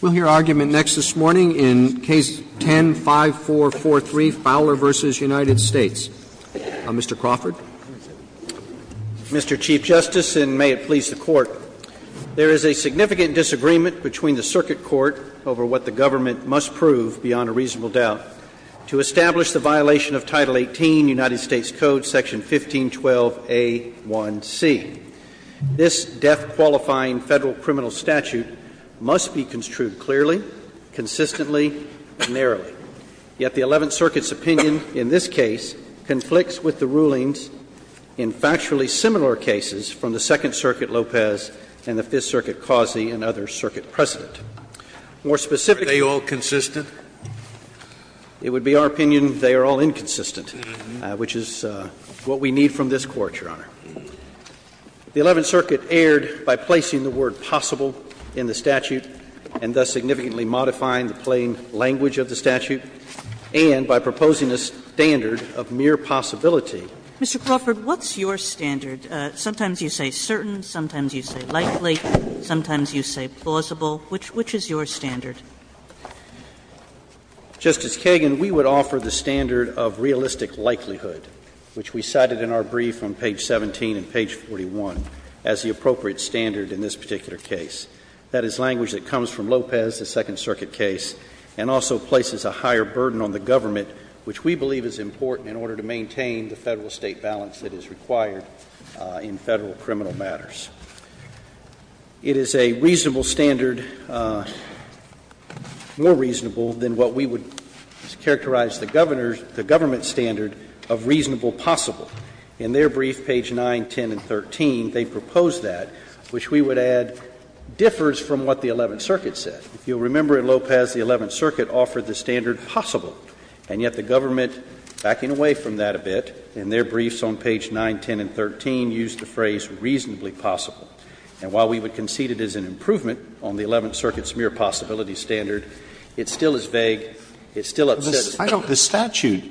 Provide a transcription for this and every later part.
We'll hear argument next this morning in Case 10-5443, Fowler v. United States. Mr. Crawford. Mr. Chief Justice, and may it please the Court, there is a significant disagreement between the Circuit Court over what the government must prove, beyond a reasonable doubt, to establish the violation of Title 18, United States Code, Section 1512a1c. This death-qualifying federal criminal statute must be construed clearly, consistently, and narrowly. Yet the Eleventh Circuit's opinion in this case conflicts with the rulings in factually similar cases from the Second Circuit, Lopez, and the Fifth Circuit, Causey, and other circuit precedent. More specifically— Are they all consistent? It would be our opinion they are all inconsistent, which is what we need from this Court, Your Honor. The Eleventh Circuit erred by placing the word possible in the statute and thus significantly modifying the plain language of the statute, and by proposing a standard of mere possibility. Mr. Crawford, what's your standard? Sometimes you say certain, sometimes you say likely, sometimes you say plausible. Which is your standard? Justice Kagan, we would offer the standard of realistic likelihood, which we cited in our brief on page 17 and page 41, as the appropriate standard in this particular case. That is language that comes from Lopez, the Second Circuit case, and also places a higher burden on the government, which we believe is important in order to maintain the Federal-State balance that is required in Federal criminal matters. It is a reasonable standard, more reasonable than what we would characterize the governor's — the government's standard of reasonable possible. In their brief, page 9, 10, and 13, they propose that, which we would add differs from what the Eleventh Circuit said. If you'll remember, in Lopez, the Eleventh Circuit offered the standard possible, and yet the government, backing away from that a bit, in their briefs on page 9, 10, and 13, used the phrase reasonably possible. And while we would concede it is an improvement on the Eleventh Circuit's mere possibility standard, it still is vague. It still upsets us. Alito, the statute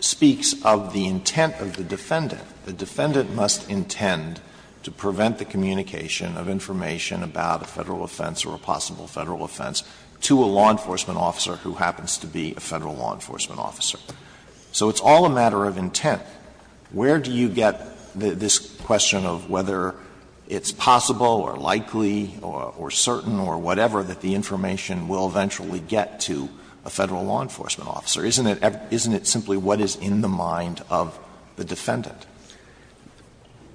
speaks of the intent of the defendant. The defendant must intend to prevent the communication of information about a Federal offense or a possible Federal offense to a law enforcement officer who happens to be a Federal law enforcement officer. So it's all a matter of intent. Where do you get this question of whether it's possible or likely or certain or whatever that the information will eventually get to a Federal law enforcement officer? Isn't it simply what is in the mind of the defendant?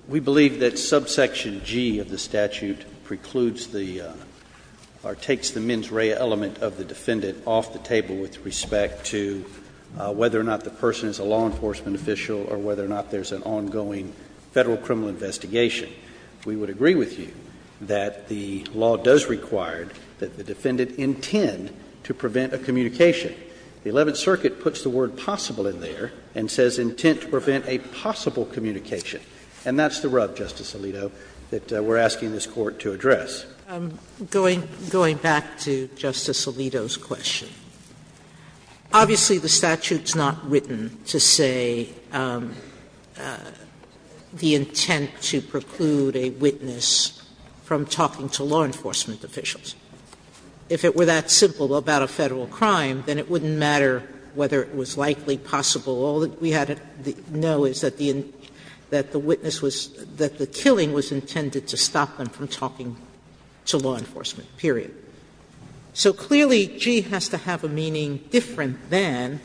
We believe that subsection G of the statute precludes the or takes the mens rea element of the defendant off the table with respect to whether or not the person is a law enforcement official or whether or not there's an ongoing Federal criminal investigation. We would agree with you that the law does require that the defendant intend to prevent a communication. The Eleventh Circuit puts the word possible in there and says intent to prevent a possible communication. And that's the rub, Justice Alito, that we're asking this Court to address. Sotomayor, going back to Justice Alito's question, obviously, the statute is not written to say the intent to preclude a witness from talking to law enforcement officials. If it were that simple about a Federal crime, then it wouldn't matter whether it was likely, possible. All that we had to know is that the witness was – that the killing was intended to stop them from talking to law enforcement, period. So, clearly, G has to have a meaning different than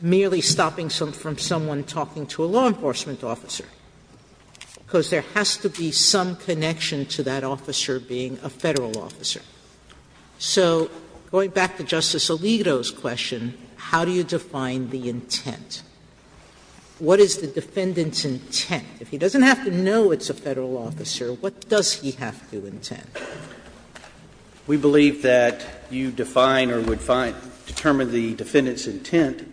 merely stopping from someone talking to a law enforcement officer, because there has to be some connection to that officer being a Federal officer. So, going back to Justice Alito's question, how do you define the intent? What is the defendant's intent? If he doesn't have to know it's a Federal officer, what does he have to intend? We believe that you define or would determine the defendant's intent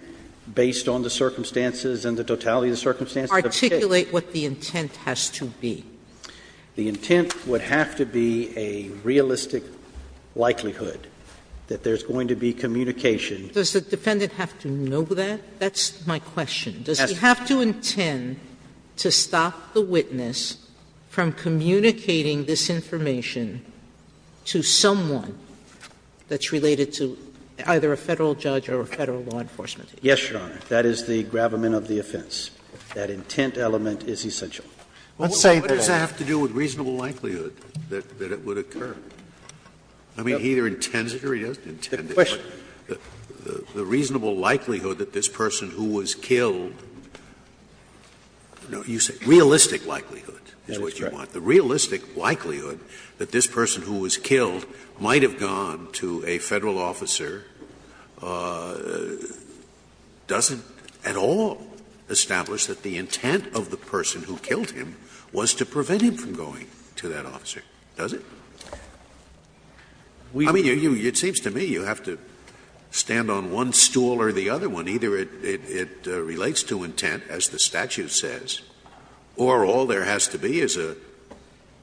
based on the circumstances and the totality of the circumstances. Articulate what the intent has to be. The intent would have to be a realistic likelihood that there's going to be communication. Sotomayor, does the defendant have to know that? That's my question. Does he have to intend to stop the witness from communicating this information to someone that's related to either a Federal judge or a Federal law enforcement? Yes, Your Honor. That is the gravamen of the offense. That intent element is essential. Let's say that. Scalia, what does that have to do with reasonable likelihood that it would occur? I mean, he either intends it or he doesn't intend it. The reasonable likelihood that this person who was killed – no, you said realistic likelihood is what you want. The realistic likelihood that this person who was killed might have gone to a Federal officer doesn't at all establish that the intent of the person who killed him was to prevent him from going to that officer, does it? I mean, it seems to me you have to stand on one stool or the other one. Either it relates to intent, as the statute says, or all there has to be is a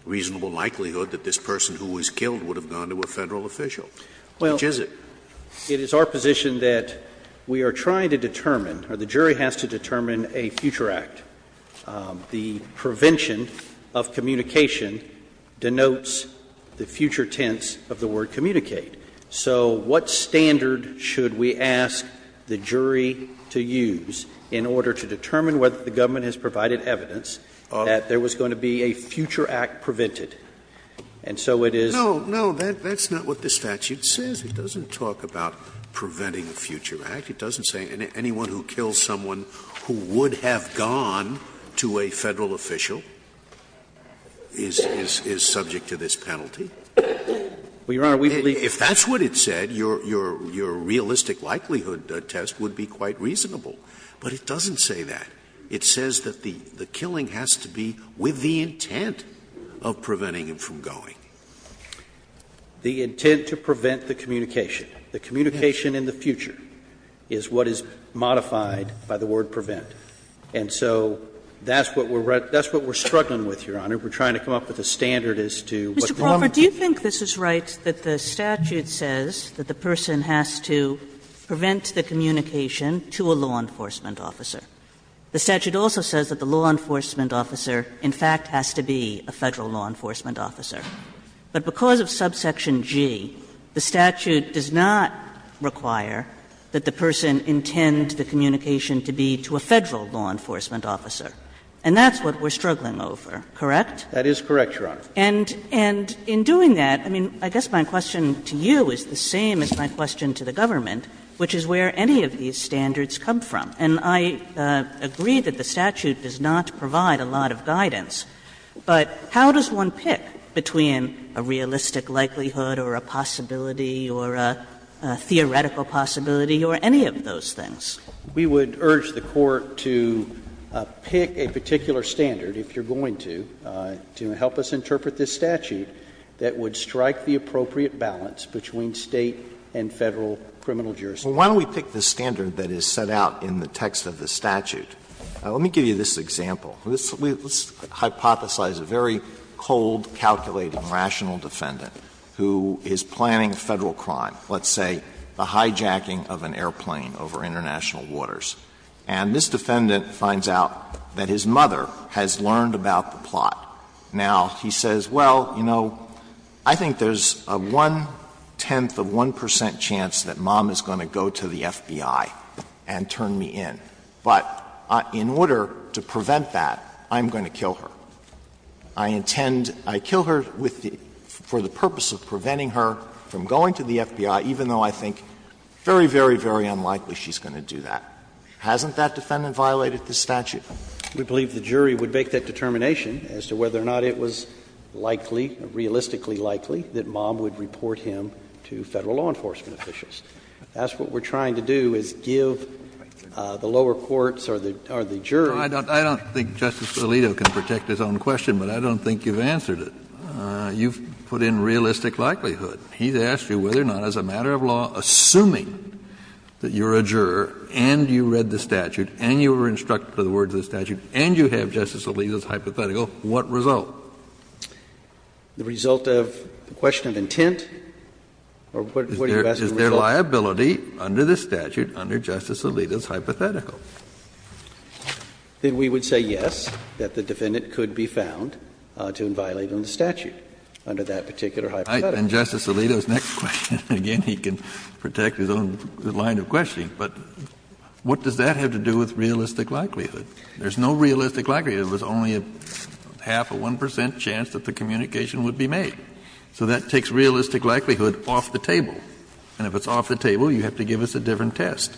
reasonable likelihood that this person who was killed would have gone to a Federal official. Which is it? Well, it is our position that we are trying to determine, or the jury has to determine, a future act. The prevention of communication denotes the future tense of the word communicate. So what standard should we ask the jury to use in order to determine whether the government has provided evidence that there was going to be a future act prevented? And so it is. No, no, that's not what the statute says. It doesn't talk about preventing a future act. It doesn't say anyone who kills someone who would have gone to a Federal official is subject to this penalty. If that's what it said, your realistic likelihood test would be quite reasonable. But it doesn't say that. It says that the killing has to be with the intent of preventing him from going. The intent to prevent the communication, the communication in the future, is what is modified by the word prevent. And so that's what we're struggling with, Your Honor. We're trying to come up with a standard as to what the government can do. Kagan, do you think this is right, that the statute says that the person has to prevent the communication to a law enforcement officer? The statute also says that the law enforcement officer, in fact, has to be a Federal law enforcement officer. But because of subsection G, the statute does not require that the person intend the communication to be to a Federal law enforcement officer. And that's what we're struggling over, correct? That is correct, Your Honor. And in doing that, I mean, I guess my question to you is the same as my question to the government, which is where any of these standards come from. And I agree that the statute does not provide a lot of guidance, but how does one pick between a realistic likelihood or a possibility or a theoretical possibility or any of those things? We would urge the Court to pick a particular standard, if you're going to, to help us interpret this statute that would strike the appropriate balance between State and Federal criminal jurisdiction. Well, why don't we pick the standard that is set out in the text of the statute? Let me give you this example. Let's hypothesize a very cold, calculated, rational defendant who is planning a Federal crime, let's say the hijacking of an airplane over international waters. And this defendant finds out that his mother has learned about the plot. Now, he says, well, you know, I think there's a one-tenth of 1 percent chance that mom is going to go to the FBI and turn me in. But in order to prevent that, I'm going to kill her. I intend to kill her for the purpose of preventing her from going to the FBI, even though I think very, very, very unlikely she's going to do that. Hasn't that defendant violated this statute? We believe the jury would make that determination as to whether or not it was likely, realistically likely, that mom would report him to Federal law enforcement officials. That's what we're trying to do, is give the lower courts or the jury. Kennedy, I don't think Justice Alito can protect his own question, but I don't think you've answered it. You've put in realistic likelihood. He's asked you whether or not, as a matter of law, assuming that you're a juror and you read the statute and you were instructed by the words of the statute and you have Justice Alito's hypothetical, what result? Is there liability under this statute, under Justice Alito's hypothetical? Then we would say yes, that the defendant could be found to have violated the statute under that particular hypothetical. And Justice Alito's next question, again, he can protect his own line of questioning, but what does that have to do with realistic likelihood? There's no realistic likelihood. There's only a half or 1 percent chance that the communication would be made. So that takes realistic likelihood off the table. And if it's off the table, you have to give us a different test.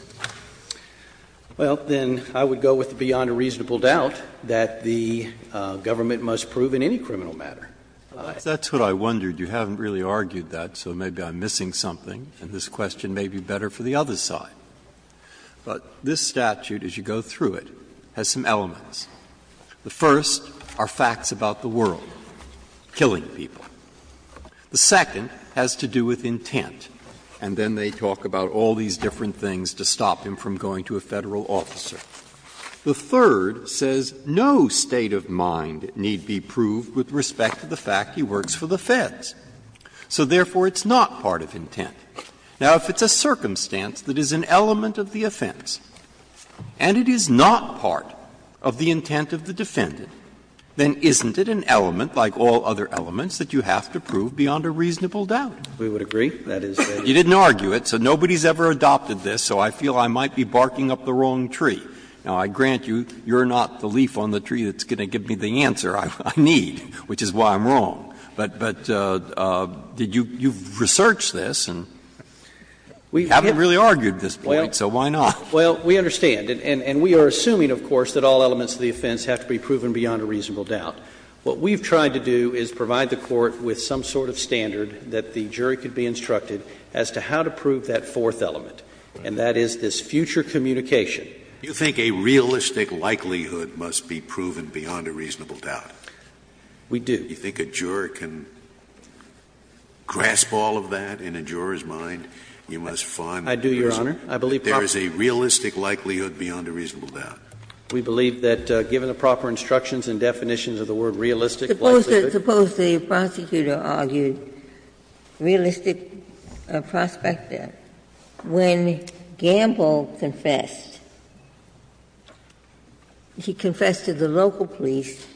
Well, then I would go with beyond a reasonable doubt that the government must prove in any criminal matter. That's what I wondered. You haven't really argued that, so maybe I'm missing something, and this question may be better for the other side. But this statute, as you go through it, has some elements. The first are facts about the world, killing people. The second has to do with intent, and then they talk about all these different things to stop him from going to a Federal officer. The third says no state of mind need be proved with respect to the fact he works for the Feds, so therefore it's not part of intent. Now, if it's a circumstance that is an element of the offense, and it is not part of the intent of the defendant, then isn't it an element, like all other elements, that you have to prove beyond a reasonable doubt? We would agree. You didn't argue it, so nobody has ever adopted this, so I feel I might be barking up the wrong tree. Now, I grant you, you're not the leaf on the tree that's going to give me the answer I need, which is why I'm wrong. But you've researched this, and you haven't really argued this point, so why not? Well, we understand. And we are assuming, of course, that all elements of the offense have to be proven beyond a reasonable doubt. What we've tried to do is provide the Court with some sort of standard that the jury could be instructed as to how to prove that fourth element, and that is this future communication. You think a realistic likelihood must be proven beyond a reasonable doubt? We do. You think a juror can grasp all of that in a juror's mind? You must find that there's a realistic likelihood beyond a reasonable doubt. We believe that given the proper instructions and definitions of the word realistic likelihood. Suppose the prosecutor argued realistic prospect there. When Gamble confessed, he confessed to the local police,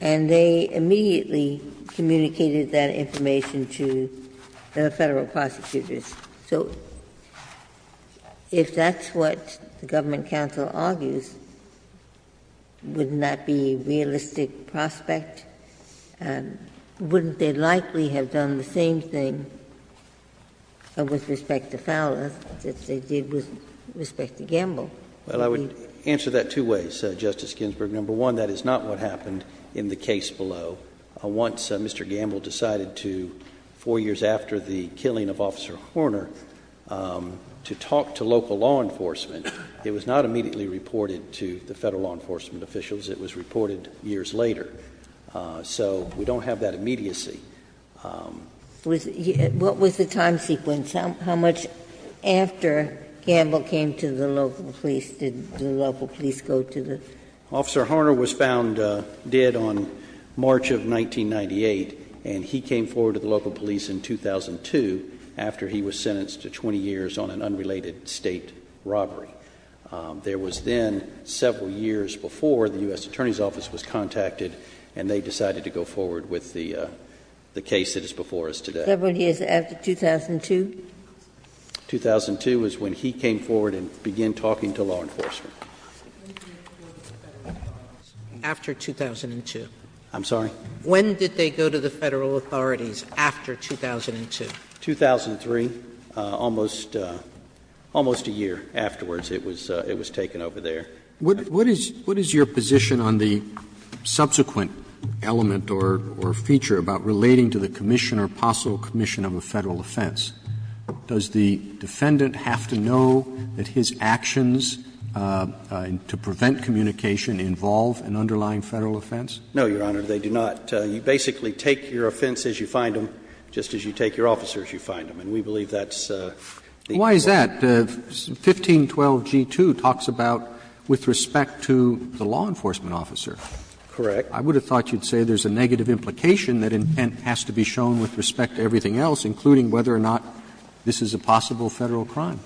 and they immediately communicated that information to the Federal prosecutors. So if that's what the Government counsel argues, wouldn't that be realistic prospect? Wouldn't they likely have done the same thing with respect to Fowler that they did with respect to Gamble? Well, I would answer that two ways, Justice Ginsburg. Number one, that is not what happened in the case below. Once Mr. Gamble decided to, four years after the killing of Officer Horner, to talk to local law enforcement, it was not immediately reported to the Federal law enforcement officials. It was reported years later. So we don't have that immediacy. What was the time sequence? How much after Gamble came to the local police did the local police go to the? Officer Horner was found dead on March of 1998, and he came forward to the local police in 2002 after he was sentenced to 20 years on an unrelated State robbery. There was then several years before the U.S. Attorney's Office was contacted, and they decided to go forward with the case that is before us today. Several years after 2002? 2002 is when he came forward and began talking to law enforcement. Sotomayor, when did he go to the Federal authorities? After 2002. I'm sorry? When did they go to the Federal authorities after 2002? 2003, almost a year afterwards it was taken over there. What is your position on the subsequent element or feature about relating to the commission or possible commission of a Federal offense? Does the defendant have to know that his actions to prevent communication involve an underlying Federal offense? No, Your Honor. They do not. You basically take your offense as you find them, just as you take your officer as you find them. And we believe that's the important point. Why is that? 1512g2 talks about with respect to the law enforcement officer. Correct. I would have thought you'd say there's a negative implication that intent has to be This is a possible Federal crime.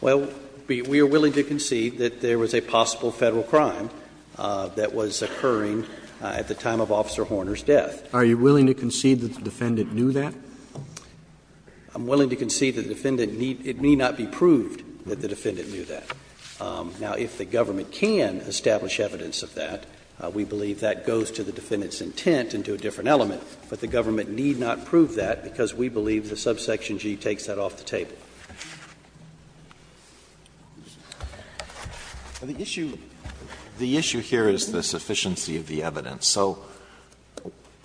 Well, we are willing to concede that there was a possible Federal crime that was occurring at the time of Officer Horner's death. Are you willing to concede that the defendant knew that? I'm willing to concede that the defendant need — it may not be proved that the defendant knew that. Now, if the government can establish evidence of that, we believe that goes to the defendant's intent and to a different element. But the government need not prove that, because we believe that subsection G takes that off the table. Alito, the issue here is the sufficiency of the evidence. So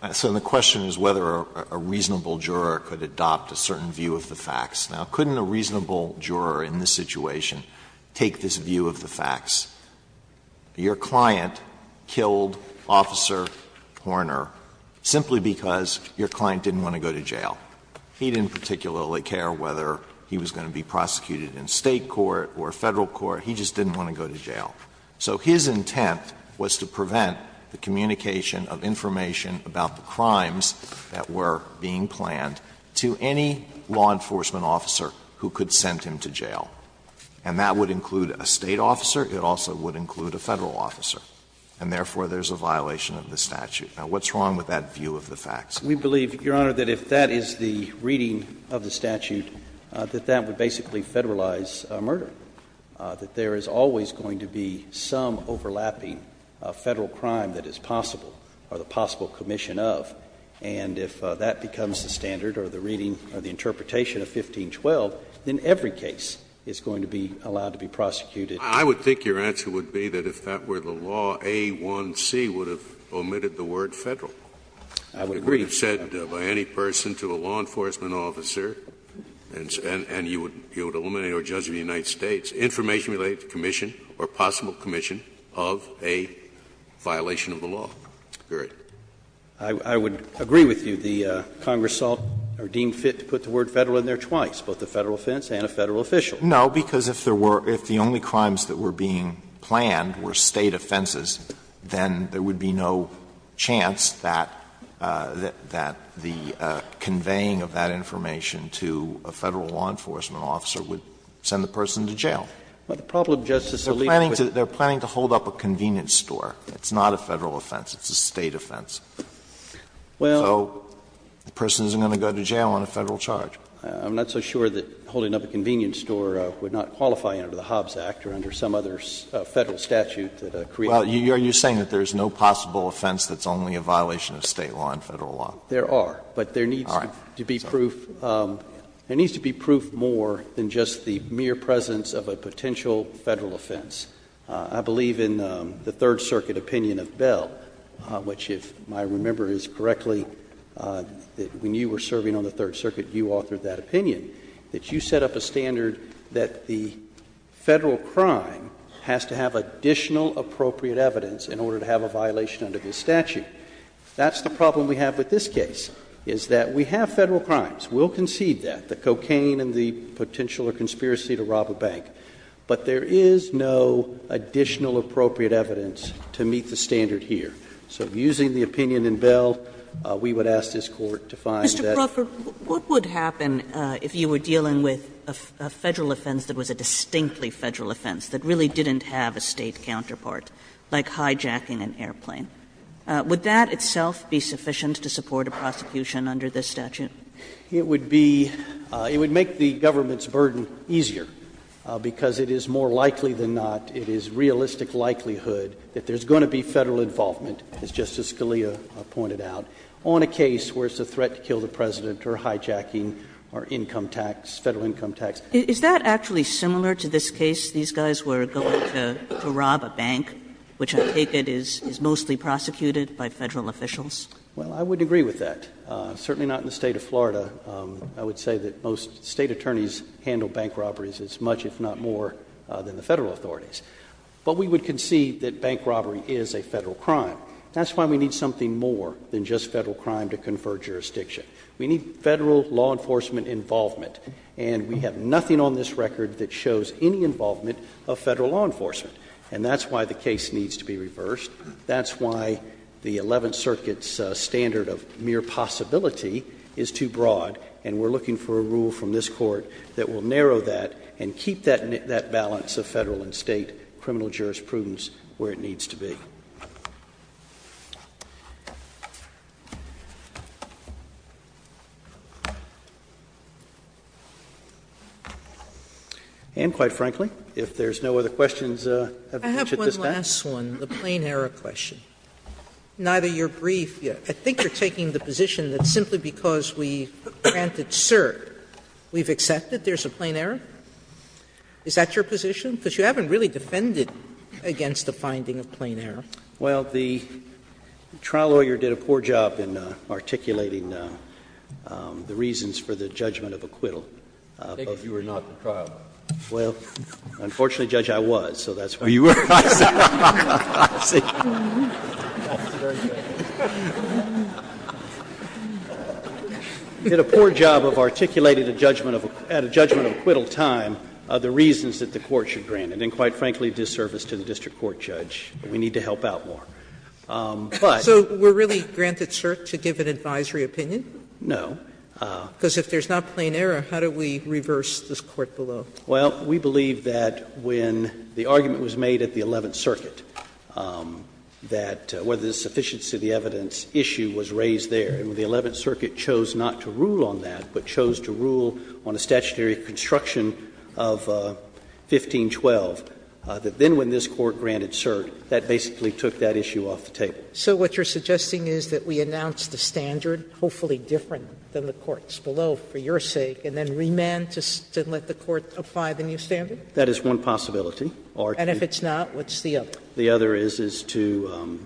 the question is whether a reasonable juror could adopt a certain view of the facts. Now, couldn't a reasonable juror in this situation take this view of the facts? Your client killed Officer Horner simply because your client didn't want to go to jail. He didn't particularly care whether he was going to be prosecuted in State court or Federal court. He just didn't want to go to jail. So his intent was to prevent the communication of information about the crimes that were being planned to any law enforcement officer who could send him to jail. And that would include a State officer. It also would include a Federal officer, and therefore, there's a violation of the statute. Now, what's wrong with that view of the facts? We believe, Your Honor, that if that is the reading of the statute, that that would basically Federalize murder, that there is always going to be some overlapping Federal crime that is possible, or the possible commission of, and if that becomes the standard or the reading or the interpretation of 1512, then every case is going to be allowed to be prosecuted. I would think your answer would be that if that were the law, A-1-C would have omitted the word Federal. I would agree. You said by any person to a law enforcement officer, and you would eliminate or judge of the United States, information related to commission or possible commission of a violation of the law. I would agree with you. The Congress saw or deemed fit to put the word Federal in there twice, both a Federal offense and a Federal official. Alito, I don't think that's what you're saying, Justice Alito, is that it's a Federal offense? No, because if there were, if the only crimes that were being planned were State offenses, then there would be no chance that, that the conveying of that information to a Federal law enforcement officer would send the person to jail. But the problem, Justice Alito, is that they're planning to hold up a convenience store. It's not a Federal offense, it's a State offense. So the person isn't going to go to jail on a Federal charge. I'm not so sure that holding up a convenience store would not qualify under the Hobbs Act or under some other Federal statute that created the law. Well, are you saying that there's no possible offense that's only a violation of State law and Federal law? There are, but there needs to be proof, there needs to be proof more than just the mere presence of a potential Federal offense. I believe in the Third Circuit opinion of Bell, which if I remember correctly, when you were serving on the Third Circuit, you authored that opinion, that you set up a standard that the Federal crime has to have additional appropriate evidence in order to have a violation under this statute. That's the problem we have with this case, is that we have Federal crimes. We'll concede that, the cocaine and the potential or conspiracy to rob a bank. But there is no additional appropriate evidence to meet the standard here. So using the opinion in Bell, we would ask this Court to find that. Kagan, Mr. Crawford, what would happen if you were dealing with a Federal offense that was a distinctly Federal offense, that really didn't have a State counterpart, like hijacking an airplane? Would that itself be sufficient to support a prosecution under this statute? Crawford, It would be — it would make the government's burden easier, because it is more likely than not, it is realistic likelihood that there's going to be Federal involvement, as Justice Scalia pointed out, on a case where it's a threat to kill the President or hijacking our income tax, Federal income tax. Kagan is that actually similar to this case, these guys were going to rob a bank, which I take it is mostly prosecuted by Federal officials? Crawford, Well, I wouldn't agree with that. Certainly not in the State of Florida. I would say that most State attorneys handle bank robberies as much, if not more, than the Federal authorities. But we would concede that bank robbery is a Federal crime. That's why we need something more than just Federal crime to confer jurisdiction. We need Federal law enforcement involvement, and we have nothing on this record that shows any involvement of Federal law enforcement. And that's why the case needs to be reversed. That's why the Eleventh Circuit's standard of mere possibility is too broad, and we're looking for a rule from this Court that will narrow that and keep that balance of Federal and State criminal jurisprudence where it needs to be. And quite frankly, if there's no other questions at this time. Sotomayor, I have one last one, the plain error question. Neither your brief yet. I think you're taking the position that simply because we granted cert, we've accepted there's a plain error? Is that your position? Because you haven't really defended against the finding of plain error. Crawford, Well, the trial lawyer did a poor job in articulating the reasons for the judgment of acquittal. Scalia, I take it you were not the trial lawyer. Crawford, Well, unfortunately, Judge, I was, so that's why you were not. I did a poor job of articulating at a judgment of acquittal time the reasons that the Court should grant it, and quite frankly, disservice to the district court judge. We need to help out more. But. Sotomayor, So we're really granted cert to give an advisory opinion? Crawford, No. Sotomayor, Because if there's not plain error, how do we reverse this Court below? Crawford, Well, we believe that when the argument was made at the Eleventh Circuit that whether there's sufficiency of the evidence issue was raised there, and the Eleventh Circuit chose not to rule on that, but chose to rule on a statutory construction of 1512, that then when this Court granted cert, that basically took that issue off the table. Sotomayor, So what you're suggesting is that we announce the standard, hopefully different than the Courts below, for your sake, and then remand to let the Court apply the new standard? Crawford, That is one possibility. Or to Sotomayor, And if it's not, what's the other? Crawford, The other is, is to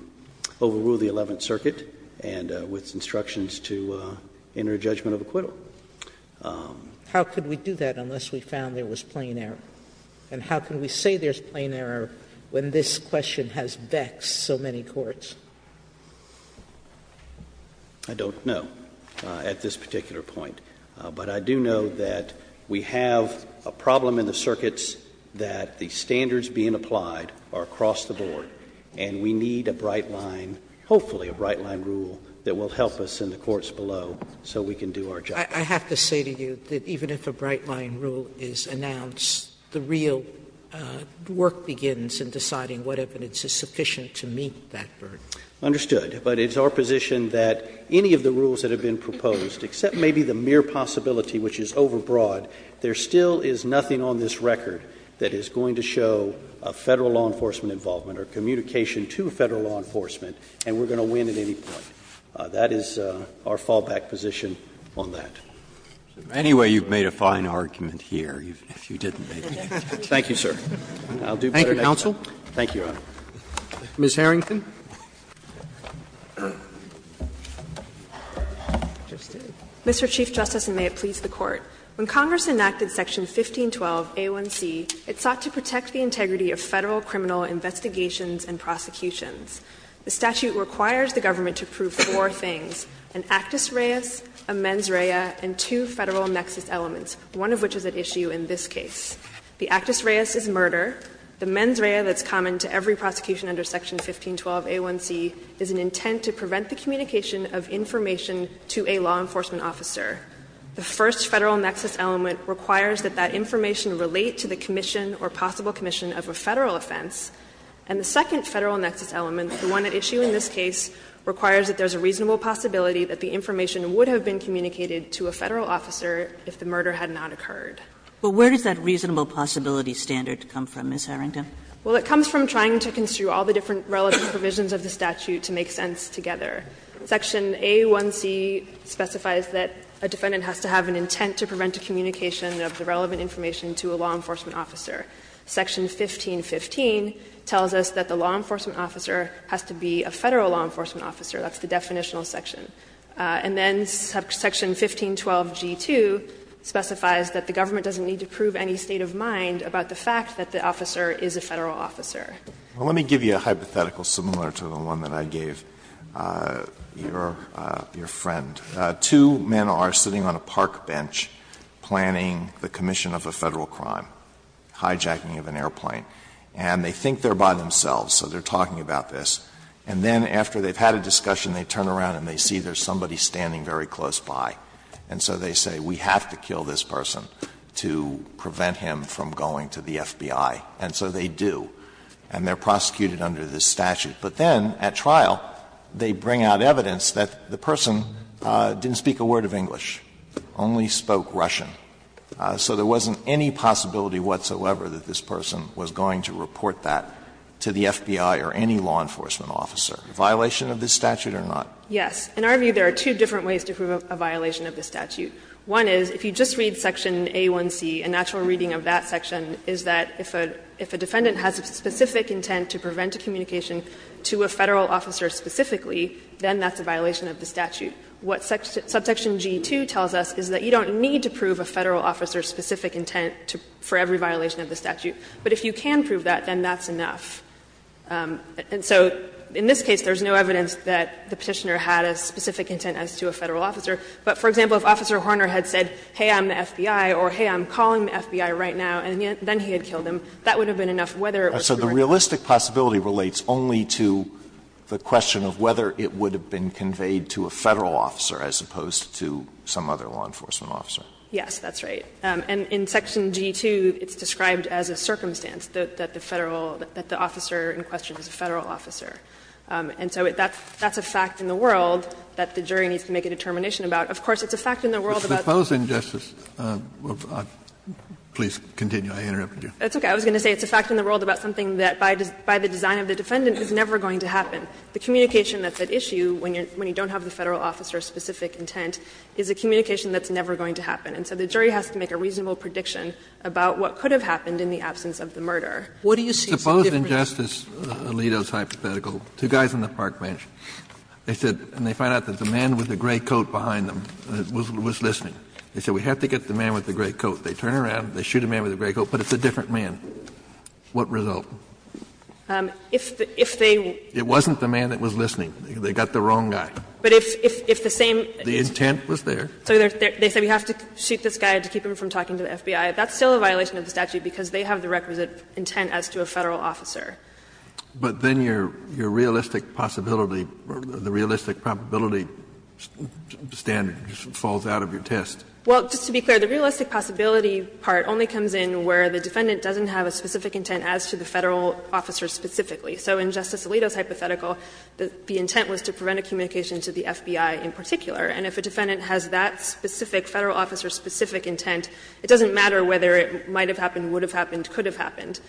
overrule the Eleventh Circuit and, with instructions to enter a judgment of acquittal. Sotomayor, How could we do that unless we found there was plain error? And how can we say there's plain error when this question has vexed so many courts? Crawford, I don't know at this particular point. But I do know that we have a problem in the circuits that the standards being applied are across the board, and we need a bright line, hopefully a bright line rule, that will help us in the courts below so we can do our job. Sotomayor, I have to say to you that even if a bright line rule is announced, the real work begins in deciding what evidence is sufficient to meet that burden. Crawford, Understood. But it's our position that any of the rules that have been proposed, except maybe the mere possibility which is overbroad, there still is nothing on this record that is going to show a Federal law enforcement involvement or communication to Federal law enforcement, and we're going to win at any point. That is our fallback position on that. Breyer, anyway, you've made a fine argument here, if you didn't make it. Crawford, Thank you, sir. I'll do better next time. Roberts, Thank you, counsel. Thank you, Your Honor. Roberts, Ms. Harrington. Harrington, Mr. Chief Justice, and may it please the Court. When Congress enacted Section 1512a1c, it sought to protect the integrity of Federal criminal investigations and prosecutions. The statute requires the government to prove four things, an actus reus, a mens rea, and two Federal nexus elements, one of which is at issue in this case. The actus reus is murder. The mens rea that's common to every prosecution under Section 1512a1c is an intent to prevent the communication of information to a law enforcement officer. The first Federal nexus element requires that that information relate to the commission or possible commission of a Federal offense. And the second Federal nexus element, the one at issue in this case, requires that there's a reasonable possibility that the information would have been communicated to a Federal officer if the murder had not occurred. But where does that reasonable possibility standard come from, Ms. Harrington? Well, it comes from trying to construe all the different relevant provisions of the statute to make sense together. Section a1c specifies that a defendant has to have an intent to prevent a communication of the relevant information to a law enforcement officer. Section 1515 tells us that the law enforcement officer has to be a Federal law enforcement officer. That's the definitional section. And then Section 1512g2 specifies that the government doesn't need to prove any state of mind about the fact that the officer is a Federal officer. Well, let me give you a hypothetical similar to the one that I gave your friend. Two men are sitting on a park bench planning the commission of a Federal crime, hijacking of an airplane. And they think they're by themselves, so they're talking about this. And then after they've had a discussion, they turn around and they see there's somebody standing very close by. And so they say, we have to kill this person to prevent him from going to the FBI. And so they do. And they're prosecuted under this statute. But then at trial, they bring out evidence that the person didn't speak a word of English, only spoke Russian. So there wasn't any possibility whatsoever that this person was going to report that to the FBI or any law enforcement officer. A violation of this statute or not? Yes. In our view, there are two different ways to prove a violation of this statute. One is, if you just read Section A1c, a natural reading of that section is that if a defendant has a specific intent to prevent a communication to a Federal officer specifically, then that's a violation of the statute. What Subsection g2 tells us is that you don't need to prove a Federal officer's specific intent for every violation of the statute. But if you can prove that, then that's enough. And so in this case, there's no evidence that the Petitioner had a specific intent as to a Federal officer. But, for example, if Officer Horner had said, hey, I'm the FBI, or, hey, I'm calling the FBI right now, and then he had killed him, that would have been enough whether it was true or not. Alito So the realistic possibility relates only to the question of whether it would have been conveyed to a Federal officer as opposed to some other law enforcement officer. Yes, that's right. And in Section g2, it's described as a circumstance, that the Federal, that the officer in question is a Federal officer. And so that's a fact in the world that the jury needs to make a determination about. Of course, it's a fact in the world about the fact that the defendant has a specific intent to prevent a communication to a Federal officer specifically, then that's officer in question is a Federal officer. And so that's a fact in the world that the jury needs to make a decision about And so that's a fact in the world that the jury needs to make a reasonable prediction about what could have happened in the absence of the murder. Kennedy What do you see as the difference? Kennedy Suppose, in Justice Alito's hypothetical, two guys on the park bench, they said, and they found out that the man with the gray coat behind them was listening. They said, we have to get the man with the gray coat. They turn around, they shoot a man with a gray coat, but it's a different man. Kennedy What result? It wasn't the man that was listening. They got the wrong guy. The intent was there. So they said, we have to shoot this guy to keep him from talking to the FBI. That's still a violation of the statute because they have the requisite intent as to a Federal officer. Kennedy But then your realistic possibility, the realistic probability standard falls out of your test. Well, just to be clear, the realistic possibility part only comes in where the defendant doesn't have a specific intent as to the Federal officer specifically. So in Justice Alito's hypothetical, the intent was to prevent a communication to the FBI in particular. And if a defendant has that specific Federal officer specific intent, it doesn't matter whether it might have happened, would have happened, could have happened.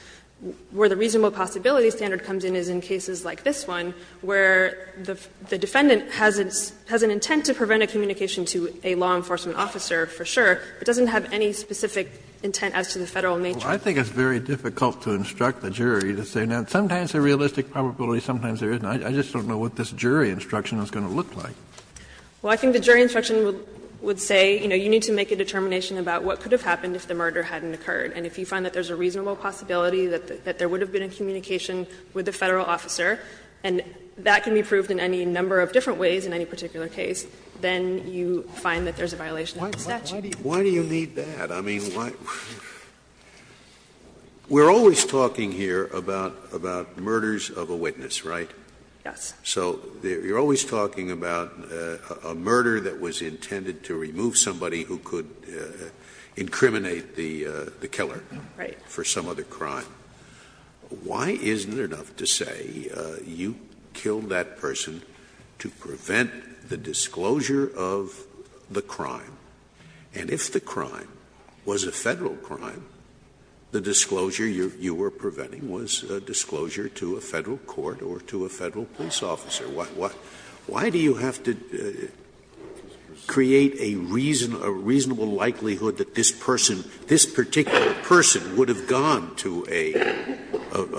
Where the reasonable possibility standard comes in is in cases like this one, where the defendant has an intent to prevent a communication to a law enforcement officer for sure, but doesn't have any specific intent as to the Federal nature. Kennedy I think it's very difficult to instruct the jury to say, now, sometimes there's a realistic probability, sometimes there isn't. I just don't know what this jury instruction is going to look like. Harrington Well, I think the jury instruction would say, you know, you need to make a determination about what could have happened if the murder hadn't occurred. And if you find that there's a reasonable possibility that there would have been a communication with the Federal officer, and that can be proved in any number of different ways in any particular case, then you find that there's a violation of the statute. Kennedy Why do you need that? I mean, why? We're always talking here about murders of a witness, right? Harrington Yes. Scalia So you're always talking about a murder that was intended to remove somebody who could incriminate the killer for some other crime. Why isn't it enough to say you killed that person to prevent the disclosure of the crime? And if the crime was a Federal crime, the disclosure you were preventing was a disclosure to a Federal court or to a Federal police officer. Why do you have to create a reasonable likelihood that this person, this particular person would have gone to a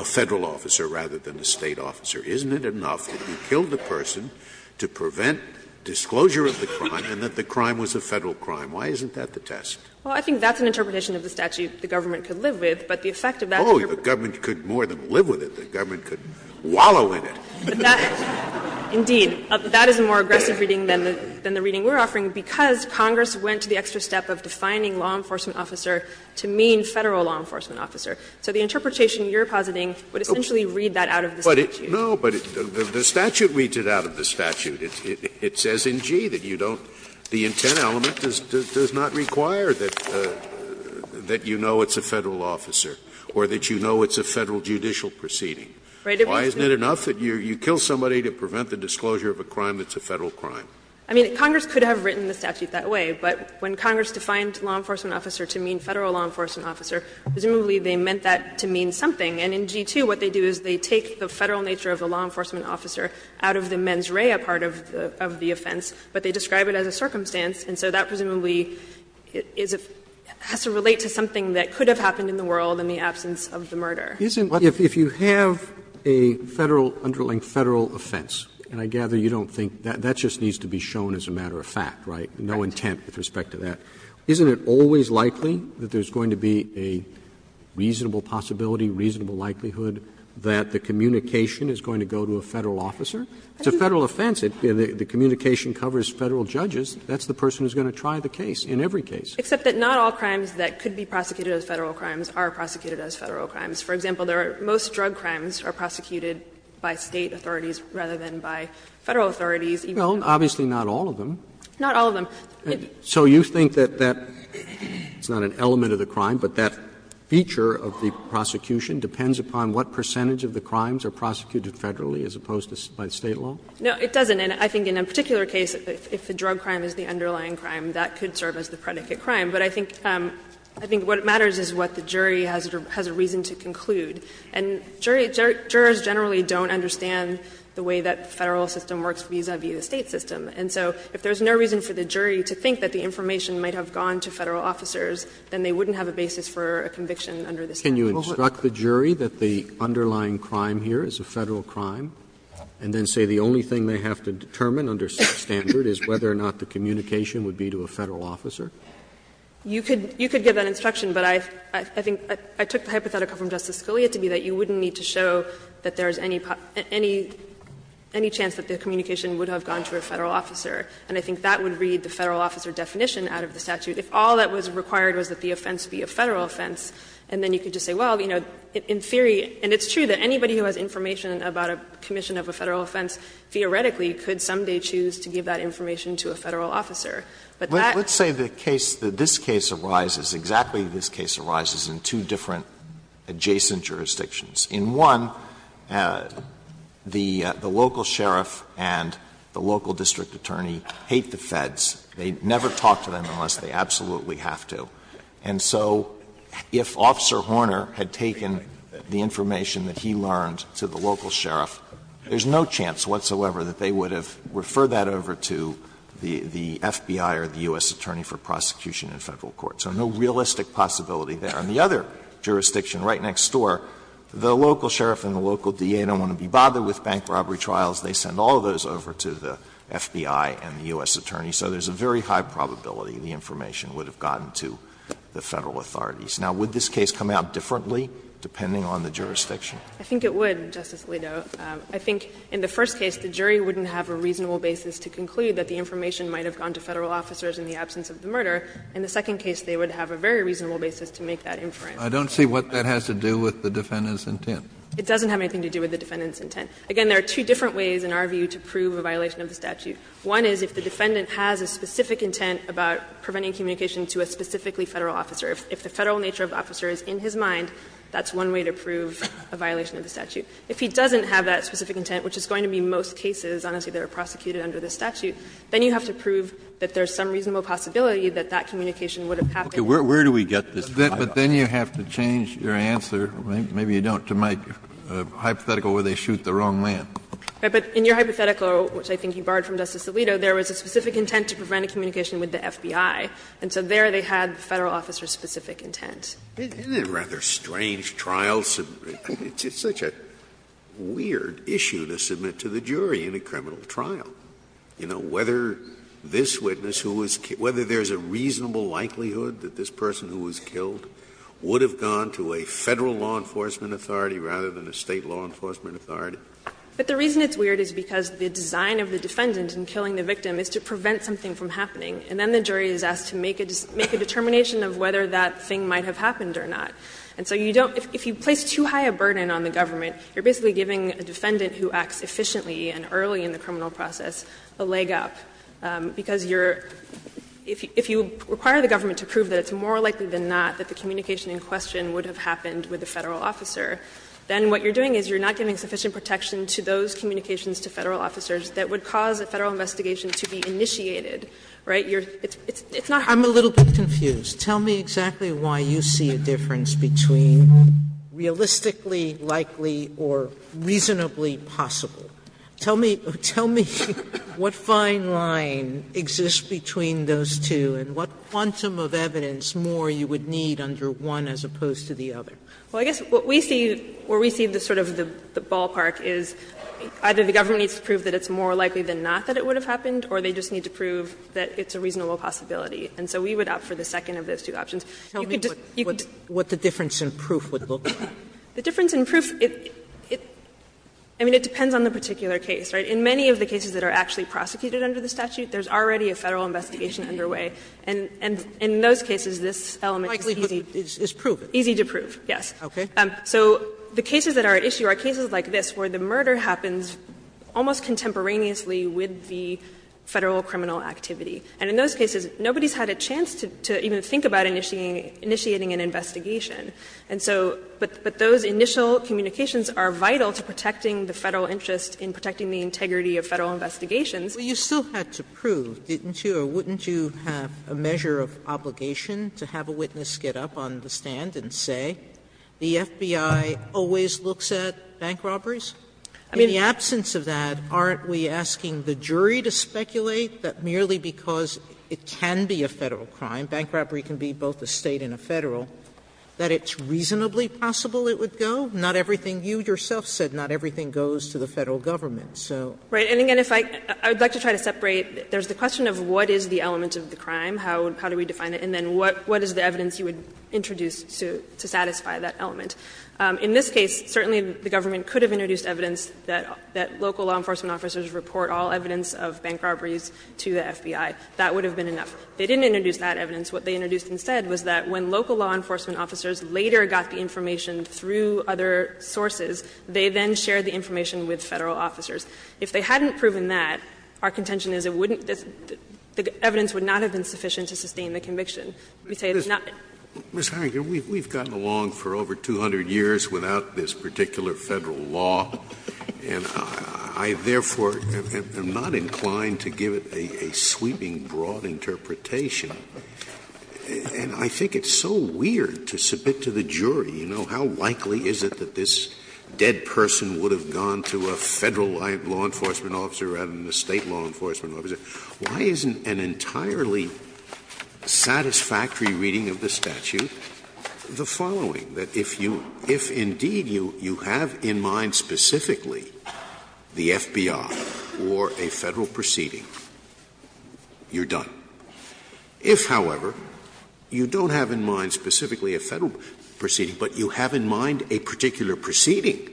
Federal officer rather than a State officer? Isn't it enough that you killed the person to prevent disclosure of the crime and that the crime was a Federal crime? Why isn't that the test? Harrington Well, I think that's an interpretation of the statute the government could live with. But the effect of that is that the government could more than live with it. The government could wallow in it. Kagan But that indeed, that is a more aggressive reading than the reading we're offering because Congress went to the extra step of defining law enforcement officer to mean Federal law enforcement officer. So the interpretation you're positing would essentially read that out of the statute. Scalia No, but the statute reads it out of the statute. It says in G that you don't the intent element does not require that you know it's a Federal officer or that you know it's a Federal judicial proceeding. Why isn't it enough that you kill somebody to prevent the disclosure of a crime that's a Federal crime? Harrington I mean, Congress could have written the statute that way, but when Congress defined law enforcement officer to mean Federal law enforcement officer, presumably they meant that to mean something. And in G-2, what they do is they take the Federal nature of the law enforcement officer out of the mens rea part of the offense, but they describe it as a circumstance, and so that presumably is a – has to relate to something that could have happened in the world in the absence of the murder. Roberts If you have a Federal, underlinked Federal offense, and I gather you don't think that, that just needs to be shown as a matter of fact, right, no intent with respect to that, isn't it always likely that there's going to be a reasonable possibility, reasonable likelihood, that the communication is going to go to a Federal officer? It's a Federal offense. The communication covers Federal judges. That's the person who's going to try the case in every case. Harrington Except that not all crimes that could be prosecuted as Federal crimes are prosecuted as Federal crimes. For example, there are – most drug crimes are prosecuted by State authorities rather than by Federal authorities. Roberts Well, obviously not all of them. Harrington Not all of them. Roberts So you think that that's not an element of the crime, but that feature of the prosecution depends upon what percentage of the crimes are prosecuted Federally as opposed to by State law? Harrington No, it doesn't. And I think in a particular case, if the drug crime is the underlying crime, that could serve as the predicate crime. But I think what matters is what the jury has a reason to conclude. And jurors generally don't understand the way that the Federal system works vis-a-vis the State system. And so if there's no reason for the jury to think that the information might have gone to Federal officers, then they wouldn't have a basis for a conviction under this statute. Roberts Can you instruct the jury that the underlying crime here is a Federal crime, and then say the only thing they have to determine under such standard is whether or not the communication would be to a Federal officer? Harrington You could give that instruction, but I think – I took the hypothetical from Justice Scalia to be that you wouldn't need to show that there's any chance that the communication would have gone to a Federal officer. And I think that would read the Federal officer definition out of the statute. If all that was required was that the offense be a Federal offense, and then you could just say, well, you know, in theory – and it's true that anybody who has information about a commission of a Federal offense, theoretically, could someday choose to give that information to a Federal officer. But that – Alito Let's say the case, that this case arises, exactly this case arises in two different adjacent jurisdictions. In one, the local sheriff and the local district attorney hate the Feds. They never talk to them unless they absolutely have to. And so if Officer Horner had taken the information that he learned to the local sheriff, there's no chance whatsoever that they would have referred that over to the FBI or the U.S. Attorney for prosecution in Federal court. So no realistic possibility there. In the other jurisdiction right next door, the local sheriff and the local DA don't want to be bothered with bank robbery trials. They send all of those over to the FBI and the U.S. Attorney. So there's a very high probability the information would have gotten to the Federal authorities. Now, would this case come out differently, depending on the jurisdiction? I think it would, Justice Alito. I think in the first case, the jury wouldn't have a reasonable basis to conclude that the information might have gone to Federal officers in the absence of the murder. In the second case, they would have a very reasonable basis to make that inference. Kennedy, I don't see what that has to do with the defendant's intent. It doesn't have anything to do with the defendant's intent. Again, there are two different ways in our view to prove a violation of the statute. One is if the defendant has a specific intent about preventing communication to a specifically Federal officer. If the Federal nature of the officer is in his mind, that's one way to prove a violation of the statute. If he doesn't have that specific intent, which is going to be most cases, honestly, that are prosecuted under this statute, then you have to prove that there's some reasonable possibility that that communication would have happened. Kennedy, where do we get this? Kennedy, but then you have to change your answer, maybe you don't, to make a hypothetical where they shoot the wrong man. But in your hypothetical, which I think you barred from Justice Alito, there was a specific intent to prevent a communication with the FBI. And so there they had the Federal officer's specific intent. Scalia, isn't it a rather strange trial? It's such a weird issue to submit to the jury in a criminal trial. You know, whether this witness who was killed, whether there's a reasonable likelihood that this person who was killed would have gone to a Federal law enforcement authority rather than a State law enforcement authority. But the reason it's weird is because the design of the defendant in killing the victim is to prevent something from happening. And then the jury is asked to make a determination of whether that thing might have happened or not. And so you don't – if you place too high a burden on the government, you're basically giving a defendant who acts efficiently and early in the criminal process a leg up. Because you're – if you require the government to prove that it's more likely than not that the communication in question would have happened with the Federal officer, then what you're doing is you're not giving sufficient protection to those communications to Federal officers that would cause a Federal investigation to be initiated, right? You're – it's not how you're doing it. Sotomayore, I'm a little bit confused. Tell me exactly why you see a difference between realistically likely or reasonably possible. Tell me – tell me what fine line exists between those two and what quantum of evidence more you would need under one as opposed to the other. Well, I guess what we see – where we see the sort of the ballpark is either the government needs to prove that it's more likely than not that it would have happened or they just need to prove that it's a reasonable possibility. And so we would opt for the second of those two options. You could just – you could just – Tell me what the difference in proof would look like. The difference in proof, it – I mean, it depends on the particular case, right? In many of the cases that are actually prosecuted under the statute, there's already a Federal investigation underway. And in those cases, this element is easy to prove, yes. Okay. So the cases that are at issue are cases like this, where the murder happens almost contemporaneously with the Federal criminal activity. And in those cases, nobody's had a chance to even think about initiating an investigation. And so – but those initial communications are vital to protecting the Federal interest in protecting the integrity of Federal investigations. Sotomayor, you still had to prove, didn't you, or wouldn't you have a measure of obligation to have a witness get up on the stand and say, the FBI always looks at bank robberies? I mean, in the absence of that, aren't we asking the jury to speculate that merely because it can be a Federal crime, bank robbery can be both a State and a Federal, that it's reasonably possible it would go? Not everything you yourself said, not everything goes to the Federal government. So – Right. And again, if I – I would like to try to separate. There's the question of what is the element of the crime, how do we define it, and then what is the evidence you would introduce to satisfy that element. In this case, certainly the government could have introduced evidence that local law enforcement officers report all evidence of bank robberies to the FBI. That would have been enough. They didn't introduce that evidence. What they introduced instead was that when local law enforcement officers later got the information through other sources, they then shared the information with Federal officers. If they hadn't proven that, our contention is it wouldn't – the evidence would not have been sufficient to sustain the conviction. We say it's not. Scalia, we've gotten along for over 200 years without this particular Federal law, and I, therefore, am not inclined to give it a sweeping, broad interpretation. And I think it's so weird to submit to the jury, you know, how likely is it that this dead person would have gone to a Federal law enforcement officer rather than a State law enforcement officer, why isn't an entirely satisfactory reading of this statute the following? That if you – if, indeed, you have in mind specifically the FBI or a Federal proceeding, you're done. If, however, you don't have in mind specifically a Federal proceeding, but you have in mind a particular proceeding,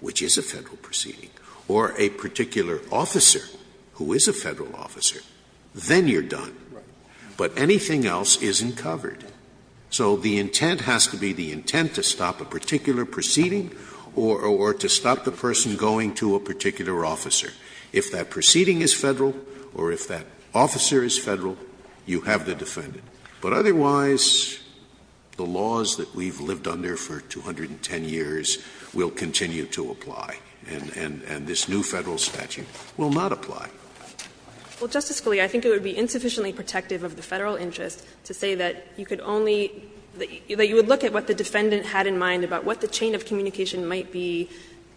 which is a Federal proceeding, or a particular officer who is a Federal officer, then you're done. But anything else isn't covered. So the intent has to be the intent to stop a particular proceeding or to stop the person going to a particular officer. If that proceeding is Federal or if that officer is Federal, you have the defendant. But otherwise, the laws that we've lived under for 210 years will continue to apply, and this new Federal statute will not apply. Well, Justice Scalia, I think it would be insufficiently protective of the Federal interest to say that you could only – that you would look at what the defendant had in mind about what the chain of communication might be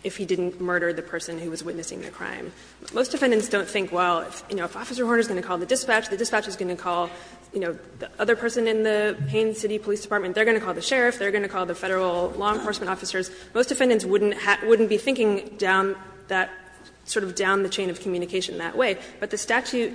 if he didn't murder the person who was witnessing the crime. Most defendants don't think, well, you know, if Officer Horner is going to call the dispatch, the dispatch is going to call, you know, the other person in the Payne City Police Department. They're going to call the sheriff. They're going to call the Federal law enforcement officers. Most defendants wouldn't be thinking down that – sort of down the chain of communication that way. But the statute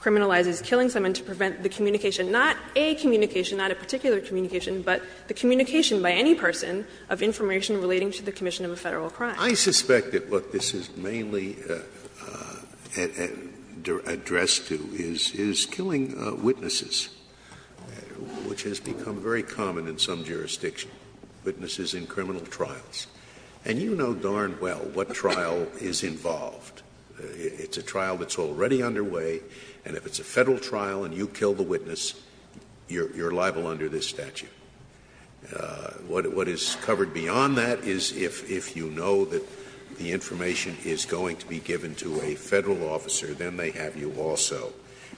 criminalizes killing someone to prevent the communication – not a communication, not a particular communication, but the communication by any person of information relating to the commission of a Federal crime. Scalia I suspect that what this is mainly addressed to is killing witnesses, which has become very common in some jurisdictions, witnesses in criminal trials. And you know darn well what trial is involved. It's a trial that's already underway, and if it's a Federal trial and you kill the witness, you're liable under this statute. What is covered beyond that is if you know that the information is going to be given to a Federal officer, then they have you also.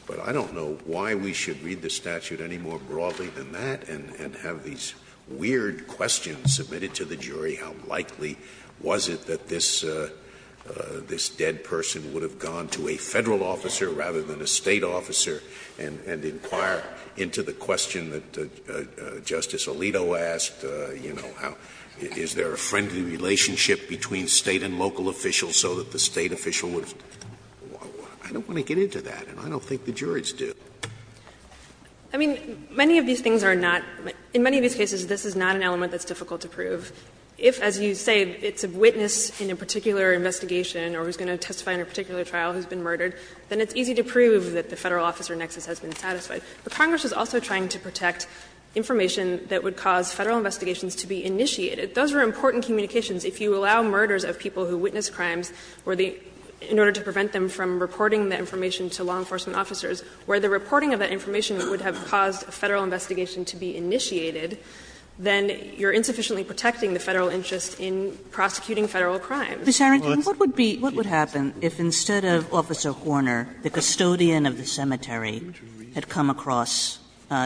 But I don't know why we should read the statute any more broadly than that and have these weird questions submitted to the jury, how likely was it that this dead person would have gone to a Federal officer rather than a State officer, and inquire into the question that Justice Alito asked, you know, how – is there a friendly relationship between State and local officials so that the State official would – I don't want to get into that, and I don't think the jurors do. I mean, many of these things are not – in many of these cases, this is not an element that's difficult to prove. If, as you say, it's a witness in a particular investigation or who's going to testify in a particular trial who's been murdered, then it's easy to prove that the Federal officer nexus has been satisfied. But Congress is also trying to protect information that would cause Federal investigations to be initiated. Those are important communications. If you allow murders of people who witness crimes where the – in order to prevent them from reporting that information to law enforcement officers, where the reporting of that information would have caused a Federal investigation to be initiated, then you're insufficiently protecting the Federal interest in prosecuting Federal crimes. Kagan, what would be – what would happen if, instead of Officer Horner, the custodian of the cemetery had come across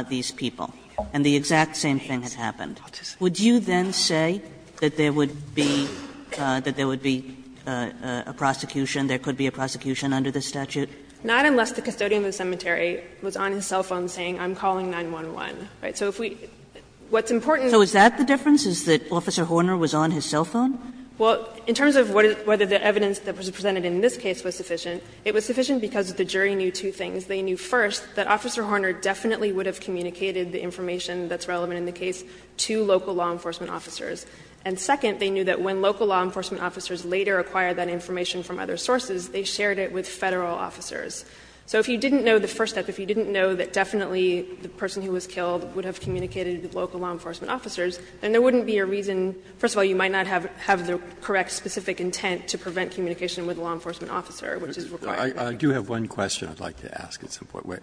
these people and the exact same thing has happened? Would you then say that there would be – that there would be a prosecution? There could be a prosecution under this statute? Not unless the custodian of the cemetery was on his cell phone saying, I'm calling 911. Right? So if we – what's important is that… So is that the difference, is that Officer Horner was on his cell phone? Well, in terms of whether the evidence that was presented in this case was sufficient, it was sufficient because the jury knew two things. They knew, first, that Officer Horner definitely would have communicated the information that's relevant in the case to local law enforcement officers. And second, they knew that when local law enforcement officers later acquired that information from other sources, they shared it with Federal officers. So if you didn't know the first step, if you didn't know that definitely the person who was killed would have communicated with local law enforcement officers, then there wouldn't be a reason – first of all, you might not have the correct specific intent to prevent communication with a law enforcement officer, which is required. I do have one question I'd like to ask at some point.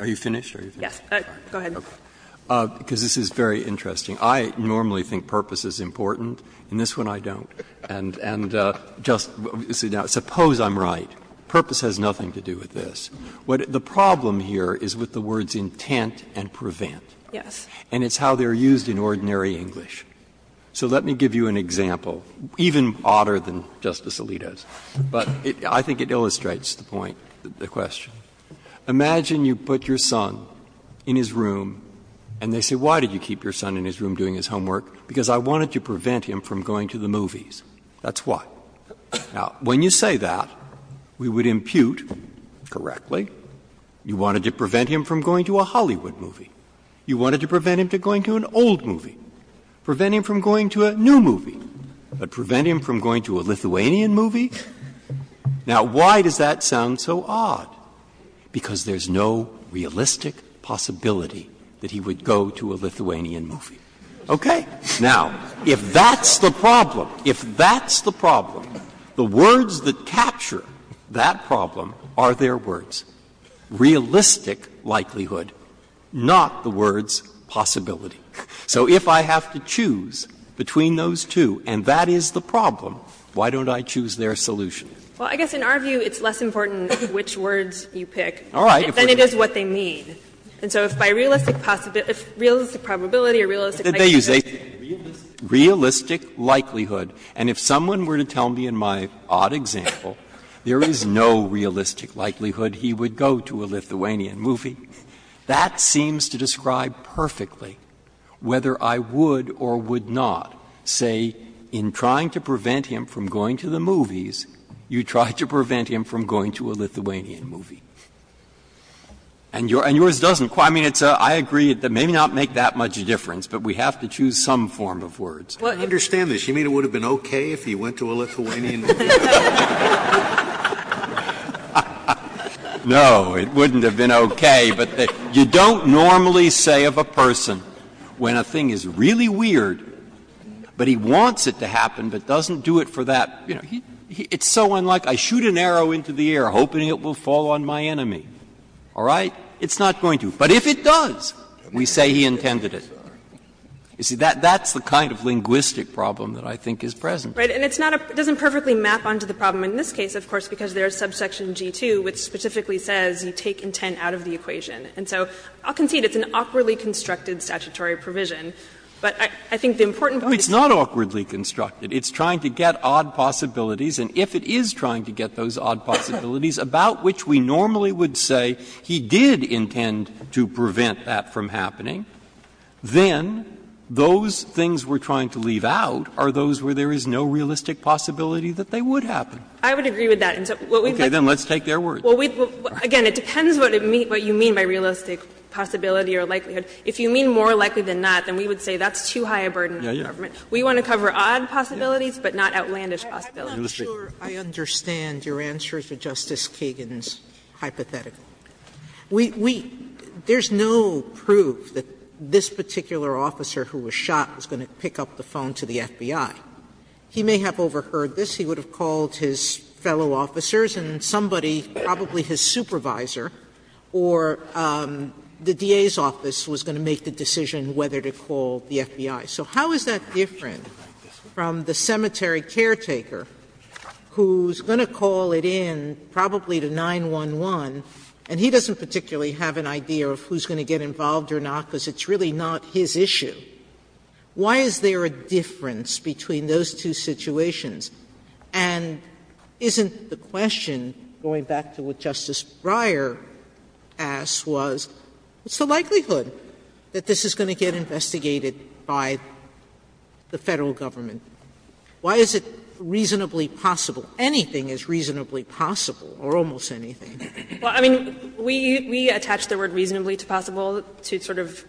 Are you finished? Yes. Go ahead. Because this is very interesting. I normally think purpose is important. In this one, I don't. And just – now, suppose I'm right. Purpose has nothing to do with this. What the problem here is with the words intent and prevent. Yes. And it's how they're used in ordinary English. So let me give you an example, even odder than Justice Alito's, but I think it illustrates the point, the question. Imagine you put your son in his room and they say, why did you keep your son in his homework? Because I wanted to prevent him from going to the movies. That's why. Now, when you say that, we would impute, correctly, you wanted to prevent him from going to a Hollywood movie. You wanted to prevent him from going to an old movie. Prevent him from going to a new movie. But prevent him from going to a Lithuanian movie? Now, why does that sound so odd? Because there's no realistic possibility that he would go to a Lithuanian movie. Okay. Now, if that's the problem, if that's the problem, the words that capture that problem are their words. Realistic likelihood, not the words possibility. So if I have to choose between those two and that is the problem, why don't I choose their solution? Well, I guess in our view, it's less important which words you pick than it is what they mean. And so if by realistic possibility or realistic likelihood. Breyer. But did they use a realistic likelihood? And if someone were to tell me in my odd example, there is no realistic likelihood he would go to a Lithuanian movie, that seems to describe perfectly whether I would or would not say in trying to prevent him from going to the movies, you try to prevent him from going to a Lithuanian movie. And yours doesn't quite. I mean, it's a, I agree, it may not make that much of a difference, but we have to choose some form of words. Scalia. I understand this. You mean it would have been okay if he went to a Lithuanian movie? Breyer. No, it wouldn't have been okay. But you don't normally say of a person when a thing is really weird, but he wants it to happen, but doesn't do it for that, you know, it's so unlike, I shoot an arrow into the air hoping it will fall on my enemy, all right, it's not going to. But if it does, we say he intended it. You see, that's the kind of linguistic problem that I think is present. Right. And it's not a, it doesn't perfectly map onto the problem in this case, of course, because there is subsection G-2, which specifically says you take intent out of the equation. And so I'll concede it's an awkwardly constructed statutory provision, but I think the important point is. Well, it's not awkwardly constructed. It's trying to get odd possibilities, and if it is trying to get those odd possibilities, about which we normally would say he did intend to prevent that from happening, then those things we're trying to leave out are those where there is no realistic possibility that they would happen. I would agree with that. And so what we'd like to say is, well, again, it depends what you mean by realistic possibility or likelihood. If you mean more likely than not, then we would say that's too high a burden on the government. We want to cover odd possibilities, but not outlandish possibilities. Sotomayor, I'm not sure I understand your answer to Justice Kagan's hypothetical. We, we, there's no proof that this particular officer who was shot was going to pick up the phone to the FBI. He may have overheard this. He would have called his fellow officers and somebody, probably his supervisor or the DA's office, was going to make the decision whether to call the FBI. So how is that different from the cemetery caretaker, who's going to call it in probably to 911, and he doesn't particularly have an idea of who's going to get involved or not, because it's really not his issue? Why is there a difference between those two situations? And isn't the question, going back to what Justice Breyer asked, was what's the likelihood that this is going to get investigated by the Federal government? Why is it reasonably possible? Anything is reasonably possible, or almost anything. Well, I mean, we, we attach the word reasonably to possible to sort of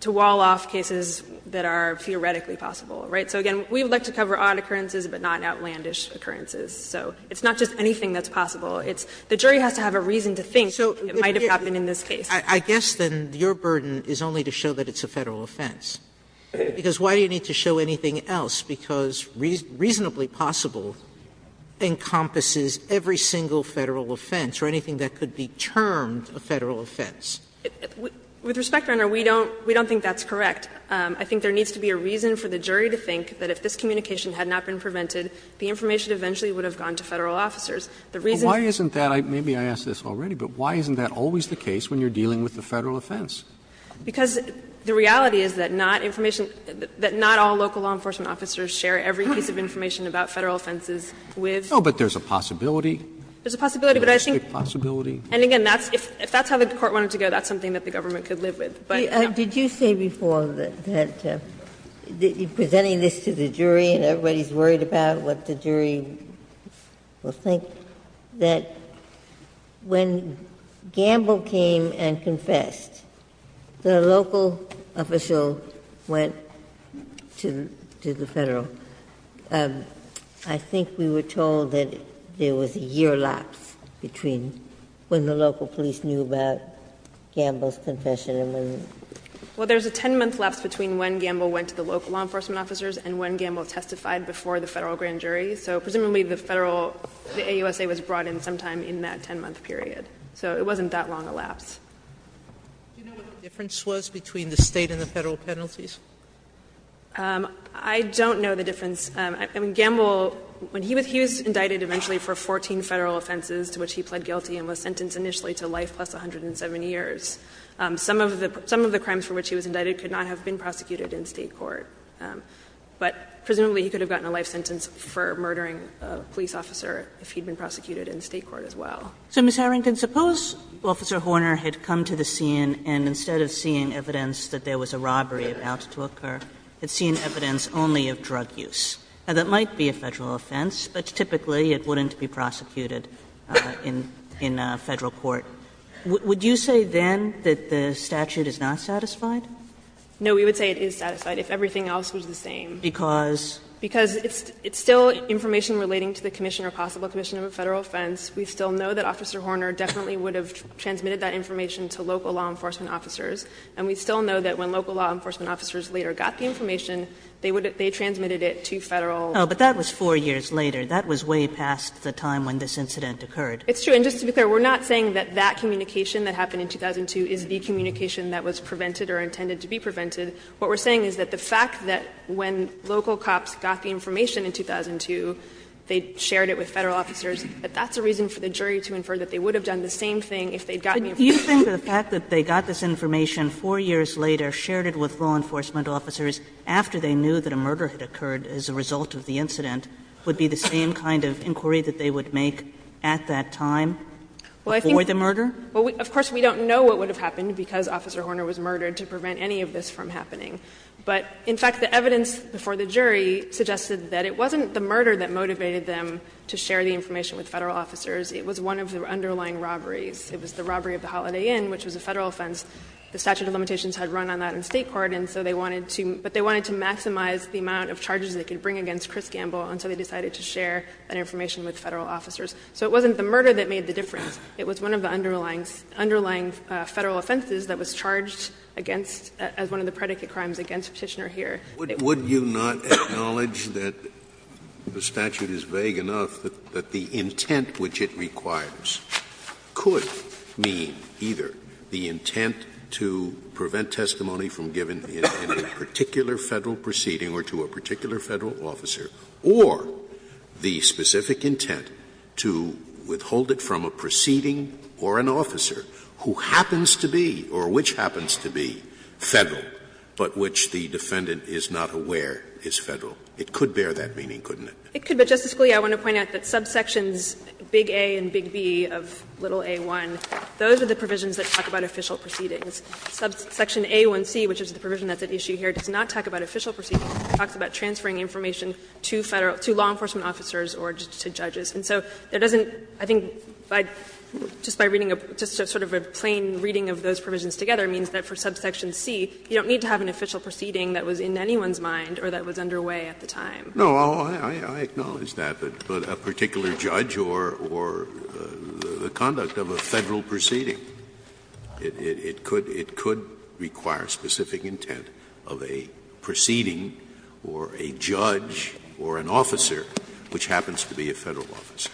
to wall off cases that are theoretically possible, right? So, again, we would like to cover odd occurrences, but not outlandish occurrences. So it's not just anything that's possible. It's the jury has to have a reason to think it might have happened in this case. Sotomayor, I guess then your burden is only to show that it's a Federal offense. Because why do you need to show anything else? Because reasonably possible encompasses every single Federal offense or anything that could be termed a Federal offense. With respect, Your Honor, we don't think that's correct. I think there needs to be a reason for the jury to think that if this communication had not been prevented, the information eventually would have gone to Federal And I think that's the reason why we're dealing with the Federal offense. Because the reality is that not information, that not all local law enforcement officers share every piece of information about Federal offenses with. No, but there's a possibility. There's a possibility, but I think. There's a possibility. And again, that's, if that's how the Court wanted to go, that's something that the government could live with. But, no. Did you say before that, that you're presenting this to the jury and everybody is worried about what the jury will think, that when Gamble came and confessed, the local official went to the Federal. I think we were told that there was a year lapse between when the local police knew about Gamble's confession and when. Well, there's a 10-month lapse between when Gamble went to the local law enforcement officers and when Gamble testified before the Federal grand jury. So, presumably, the Federal, the AUSA was brought in sometime in that 10-month period. So it wasn't that long a lapse. Do you know what the difference was between the State and the Federal penalties? I don't know the difference. I mean, Gamble, when he was, he was indicted eventually for 14 Federal offenses to which he pled guilty and was sentenced initially to life plus 170 years. Some of the, some of the crimes for which he was indicted could not have been prosecuted in State court. But presumably, he could have gotten a life sentence for murdering a police officer if he'd been prosecuted in State court as well. So, Ms. Harrington, suppose Officer Horner had come to the scene and instead of seeing evidence that there was a robbery about to occur, had seen evidence only of drug use. Now, that might be a Federal offense, but typically, it wouldn't be prosecuted in Federal court. Would you say then that the statute is not satisfied? No. We would say it is satisfied if everything else was the same. Because? Because it's still information relating to the commission or possible commission of a Federal offense. We still know that Officer Horner definitely would have transmitted that information to local law enforcement officers. And we still know that when local law enforcement officers later got the information, they transmitted it to Federal. No, but that was four years later. That was way past the time when this incident occurred. It's true. And just to be clear, we're not saying that that communication that happened in 2002 is the communication that was prevented or intended to be prevented. What we're saying is that the fact that when local cops got the information in 2002, they shared it with Federal officers, that that's a reason for the jury to infer that they would have done the same thing if they had gotten the information. Kagan, do you think the fact that they got this information four years later, shared it with law enforcement officers after they knew that a murder had occurred as a result of the incident would be the same kind of inquiry that they would make at that time before the murder? Of course, we don't know what would have happened because Officer Horner was murdered to prevent any of this from happening. But, in fact, the evidence before the jury suggested that it wasn't the murder that motivated them to share the information with Federal officers. It was one of the underlying robberies. It was the robbery of the Holiday Inn, which was a Federal offense. The statute of limitations had run on that in State court, and so they wanted to – but they wanted to maximize the amount of charges they could bring against Chris Gamble until they decided to share that information with Federal officers. So it wasn't the murder that made the difference. It was one of the underlying Federal offenses that was charged against – as one of the predicate crimes against Petitioner here. Scalia, would you not acknowledge that the statute is vague enough that the intent which it requires could mean either the intent to prevent testimony from giving in a particular Federal proceeding or to a particular Federal officer, or the specific intent to withhold it from a proceeding or an officer who happens to be, or which happens to be, Federal, but which the defendant is not aware is Federal? It could bear that meaning, couldn't it? It could. But, Justice Scalia, I want to point out that subsections big A and big B of little A-1, those are the provisions that talk about official proceedings. Subsection A-1C, which is the provision that's at issue here, does not talk about official proceedings. It talks about transferring information to Federal – to law enforcement officers or to judges. And so there doesn't, I think, by just by reading a – just sort of a plain reading of those provisions together means that for subsection C, you don't need to have an official proceeding that was in anyone's mind or that was underway at the time. Scalia, I acknowledge that, but a particular judge or the conduct of a Federal It could. It could require specific intent of a proceeding or a judge or an officer which happens to be a Federal officer.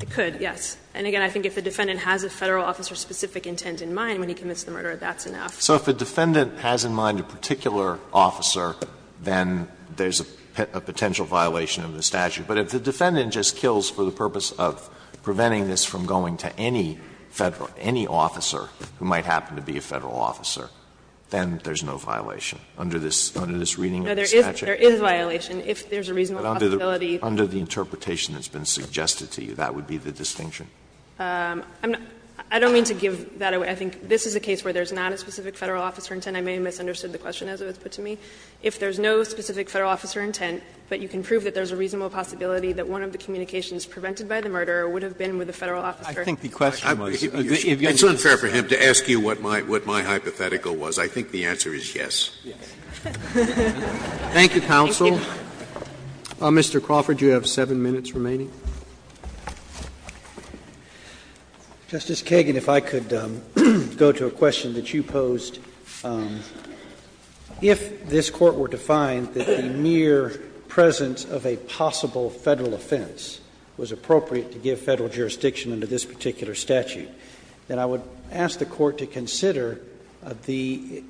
It could, yes. And, again, I think if the defendant has a Federal officer-specific intent in mind when he commits the murder, that's enough. So if the defendant has in mind a particular officer, then there's a potential violation of the statute. But if the defendant just kills for the purpose of preventing this from going to any Federal – any officer who might happen to be a Federal officer, then there's no violation under this reading of the statute. No, there is violation if there's a reasonable possibility. But under the interpretation that's been suggested to you, that would be the distinction? I'm not – I don't mean to give that away. I think this is a case where there's not a specific Federal officer intent. I may have misunderstood the question as it was put to me. If there's no specific Federal officer intent, but you can prove that there's a reasonable possibility that one of the communications prevented by the murderer would have been with a Federal officer. I think the question was if you're going to use this statute. It's unfair for him to ask you what my hypothetical was. I think the answer is yes. Yes. Thank you, counsel. Mr. Crawford, you have 7 minutes remaining. Justice Kagan, if I could go to a question that you posed. If this Court were to find that the mere presence of a possible Federal offense was appropriate to give Federal jurisdiction under this particular statute, then I would ask the Court to consider the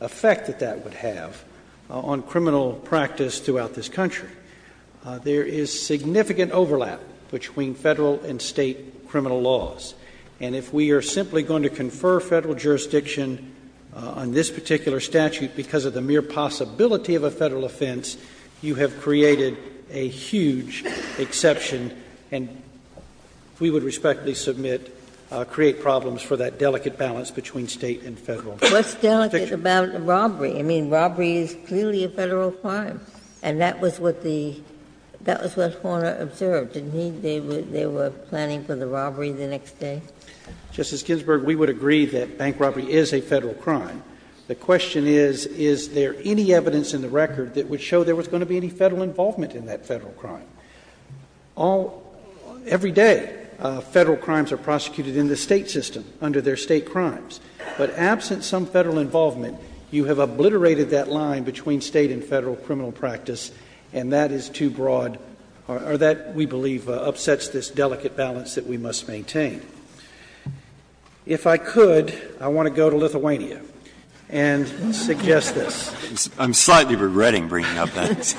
effect that that would have on criminal practice throughout this country. There is significant overlap between Federal and State criminal laws. And if we are simply going to confer Federal jurisdiction on this particular statute because of the mere possibility of a Federal offense, you have created a huge exception, and we would respectfully submit, create problems for that delicate balance between State and Federal jurisdiction. What's delicate about robbery? I mean, robbery is clearly a Federal crime. And that was what the — that was what Horner observed. Didn't he? They were planning for the robbery the next day? Justice Ginsburg, we would agree that bank robbery is a Federal crime. The question is, is there any evidence in the record that would show there was going to be any Federal involvement in that Federal crime? All — every day, Federal crimes are prosecuted in the State system under their State crimes. But absent some Federal involvement, you have obliterated that line between State and Federal criminal practice, and that is too broad, or that, we believe, upsets this delicate balance that we must maintain. If I could, I want to go to Lithuania and suggest this. I'm slightly regretting bringing up that.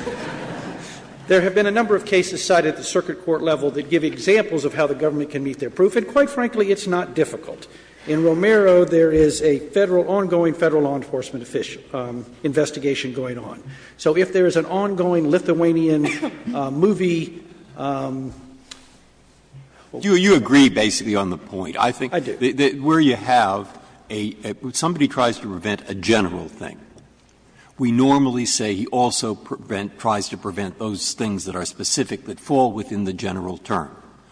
There have been a number of cases cited at the circuit court level that give examples of how the government can meet their proof, and quite frankly, it's not difficult. In Romero, there is a Federal — ongoing Federal law enforcement investigation going on. So if there is an ongoing Lithuanian movie or whatever. You agree, basically, on the point. I think that where you have a — somebody tries to prevent a general thing. We normally say he also prevent — tries to prevent those things that are specific that fall within the general term,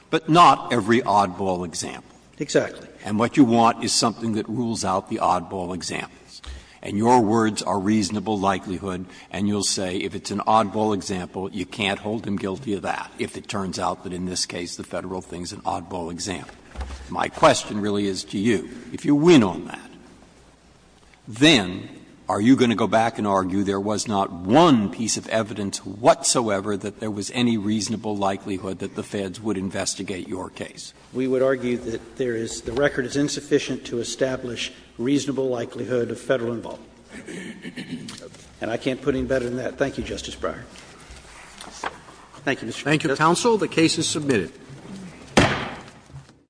but not every oddball example. Exactly. And what you want is something that rules out the oddball examples. And your words are reasonable likelihood, and you'll say if it's an oddball example, you can't hold him guilty of that if it turns out that in this case the Federal thing is an oddball example. My question really is to you, if you win on that, then are you going to go back and argue there was not one piece of evidence whatsoever that there was any reasonable likelihood that the Feds would investigate your case? We would argue that there is — the record is insufficient to establish reasonable likelihood of Federal involvement. And I can't put any better than that. Thank you, Justice Breyer. Thank you, Mr. Chief Justice. Thank you, counsel. The case is submitted.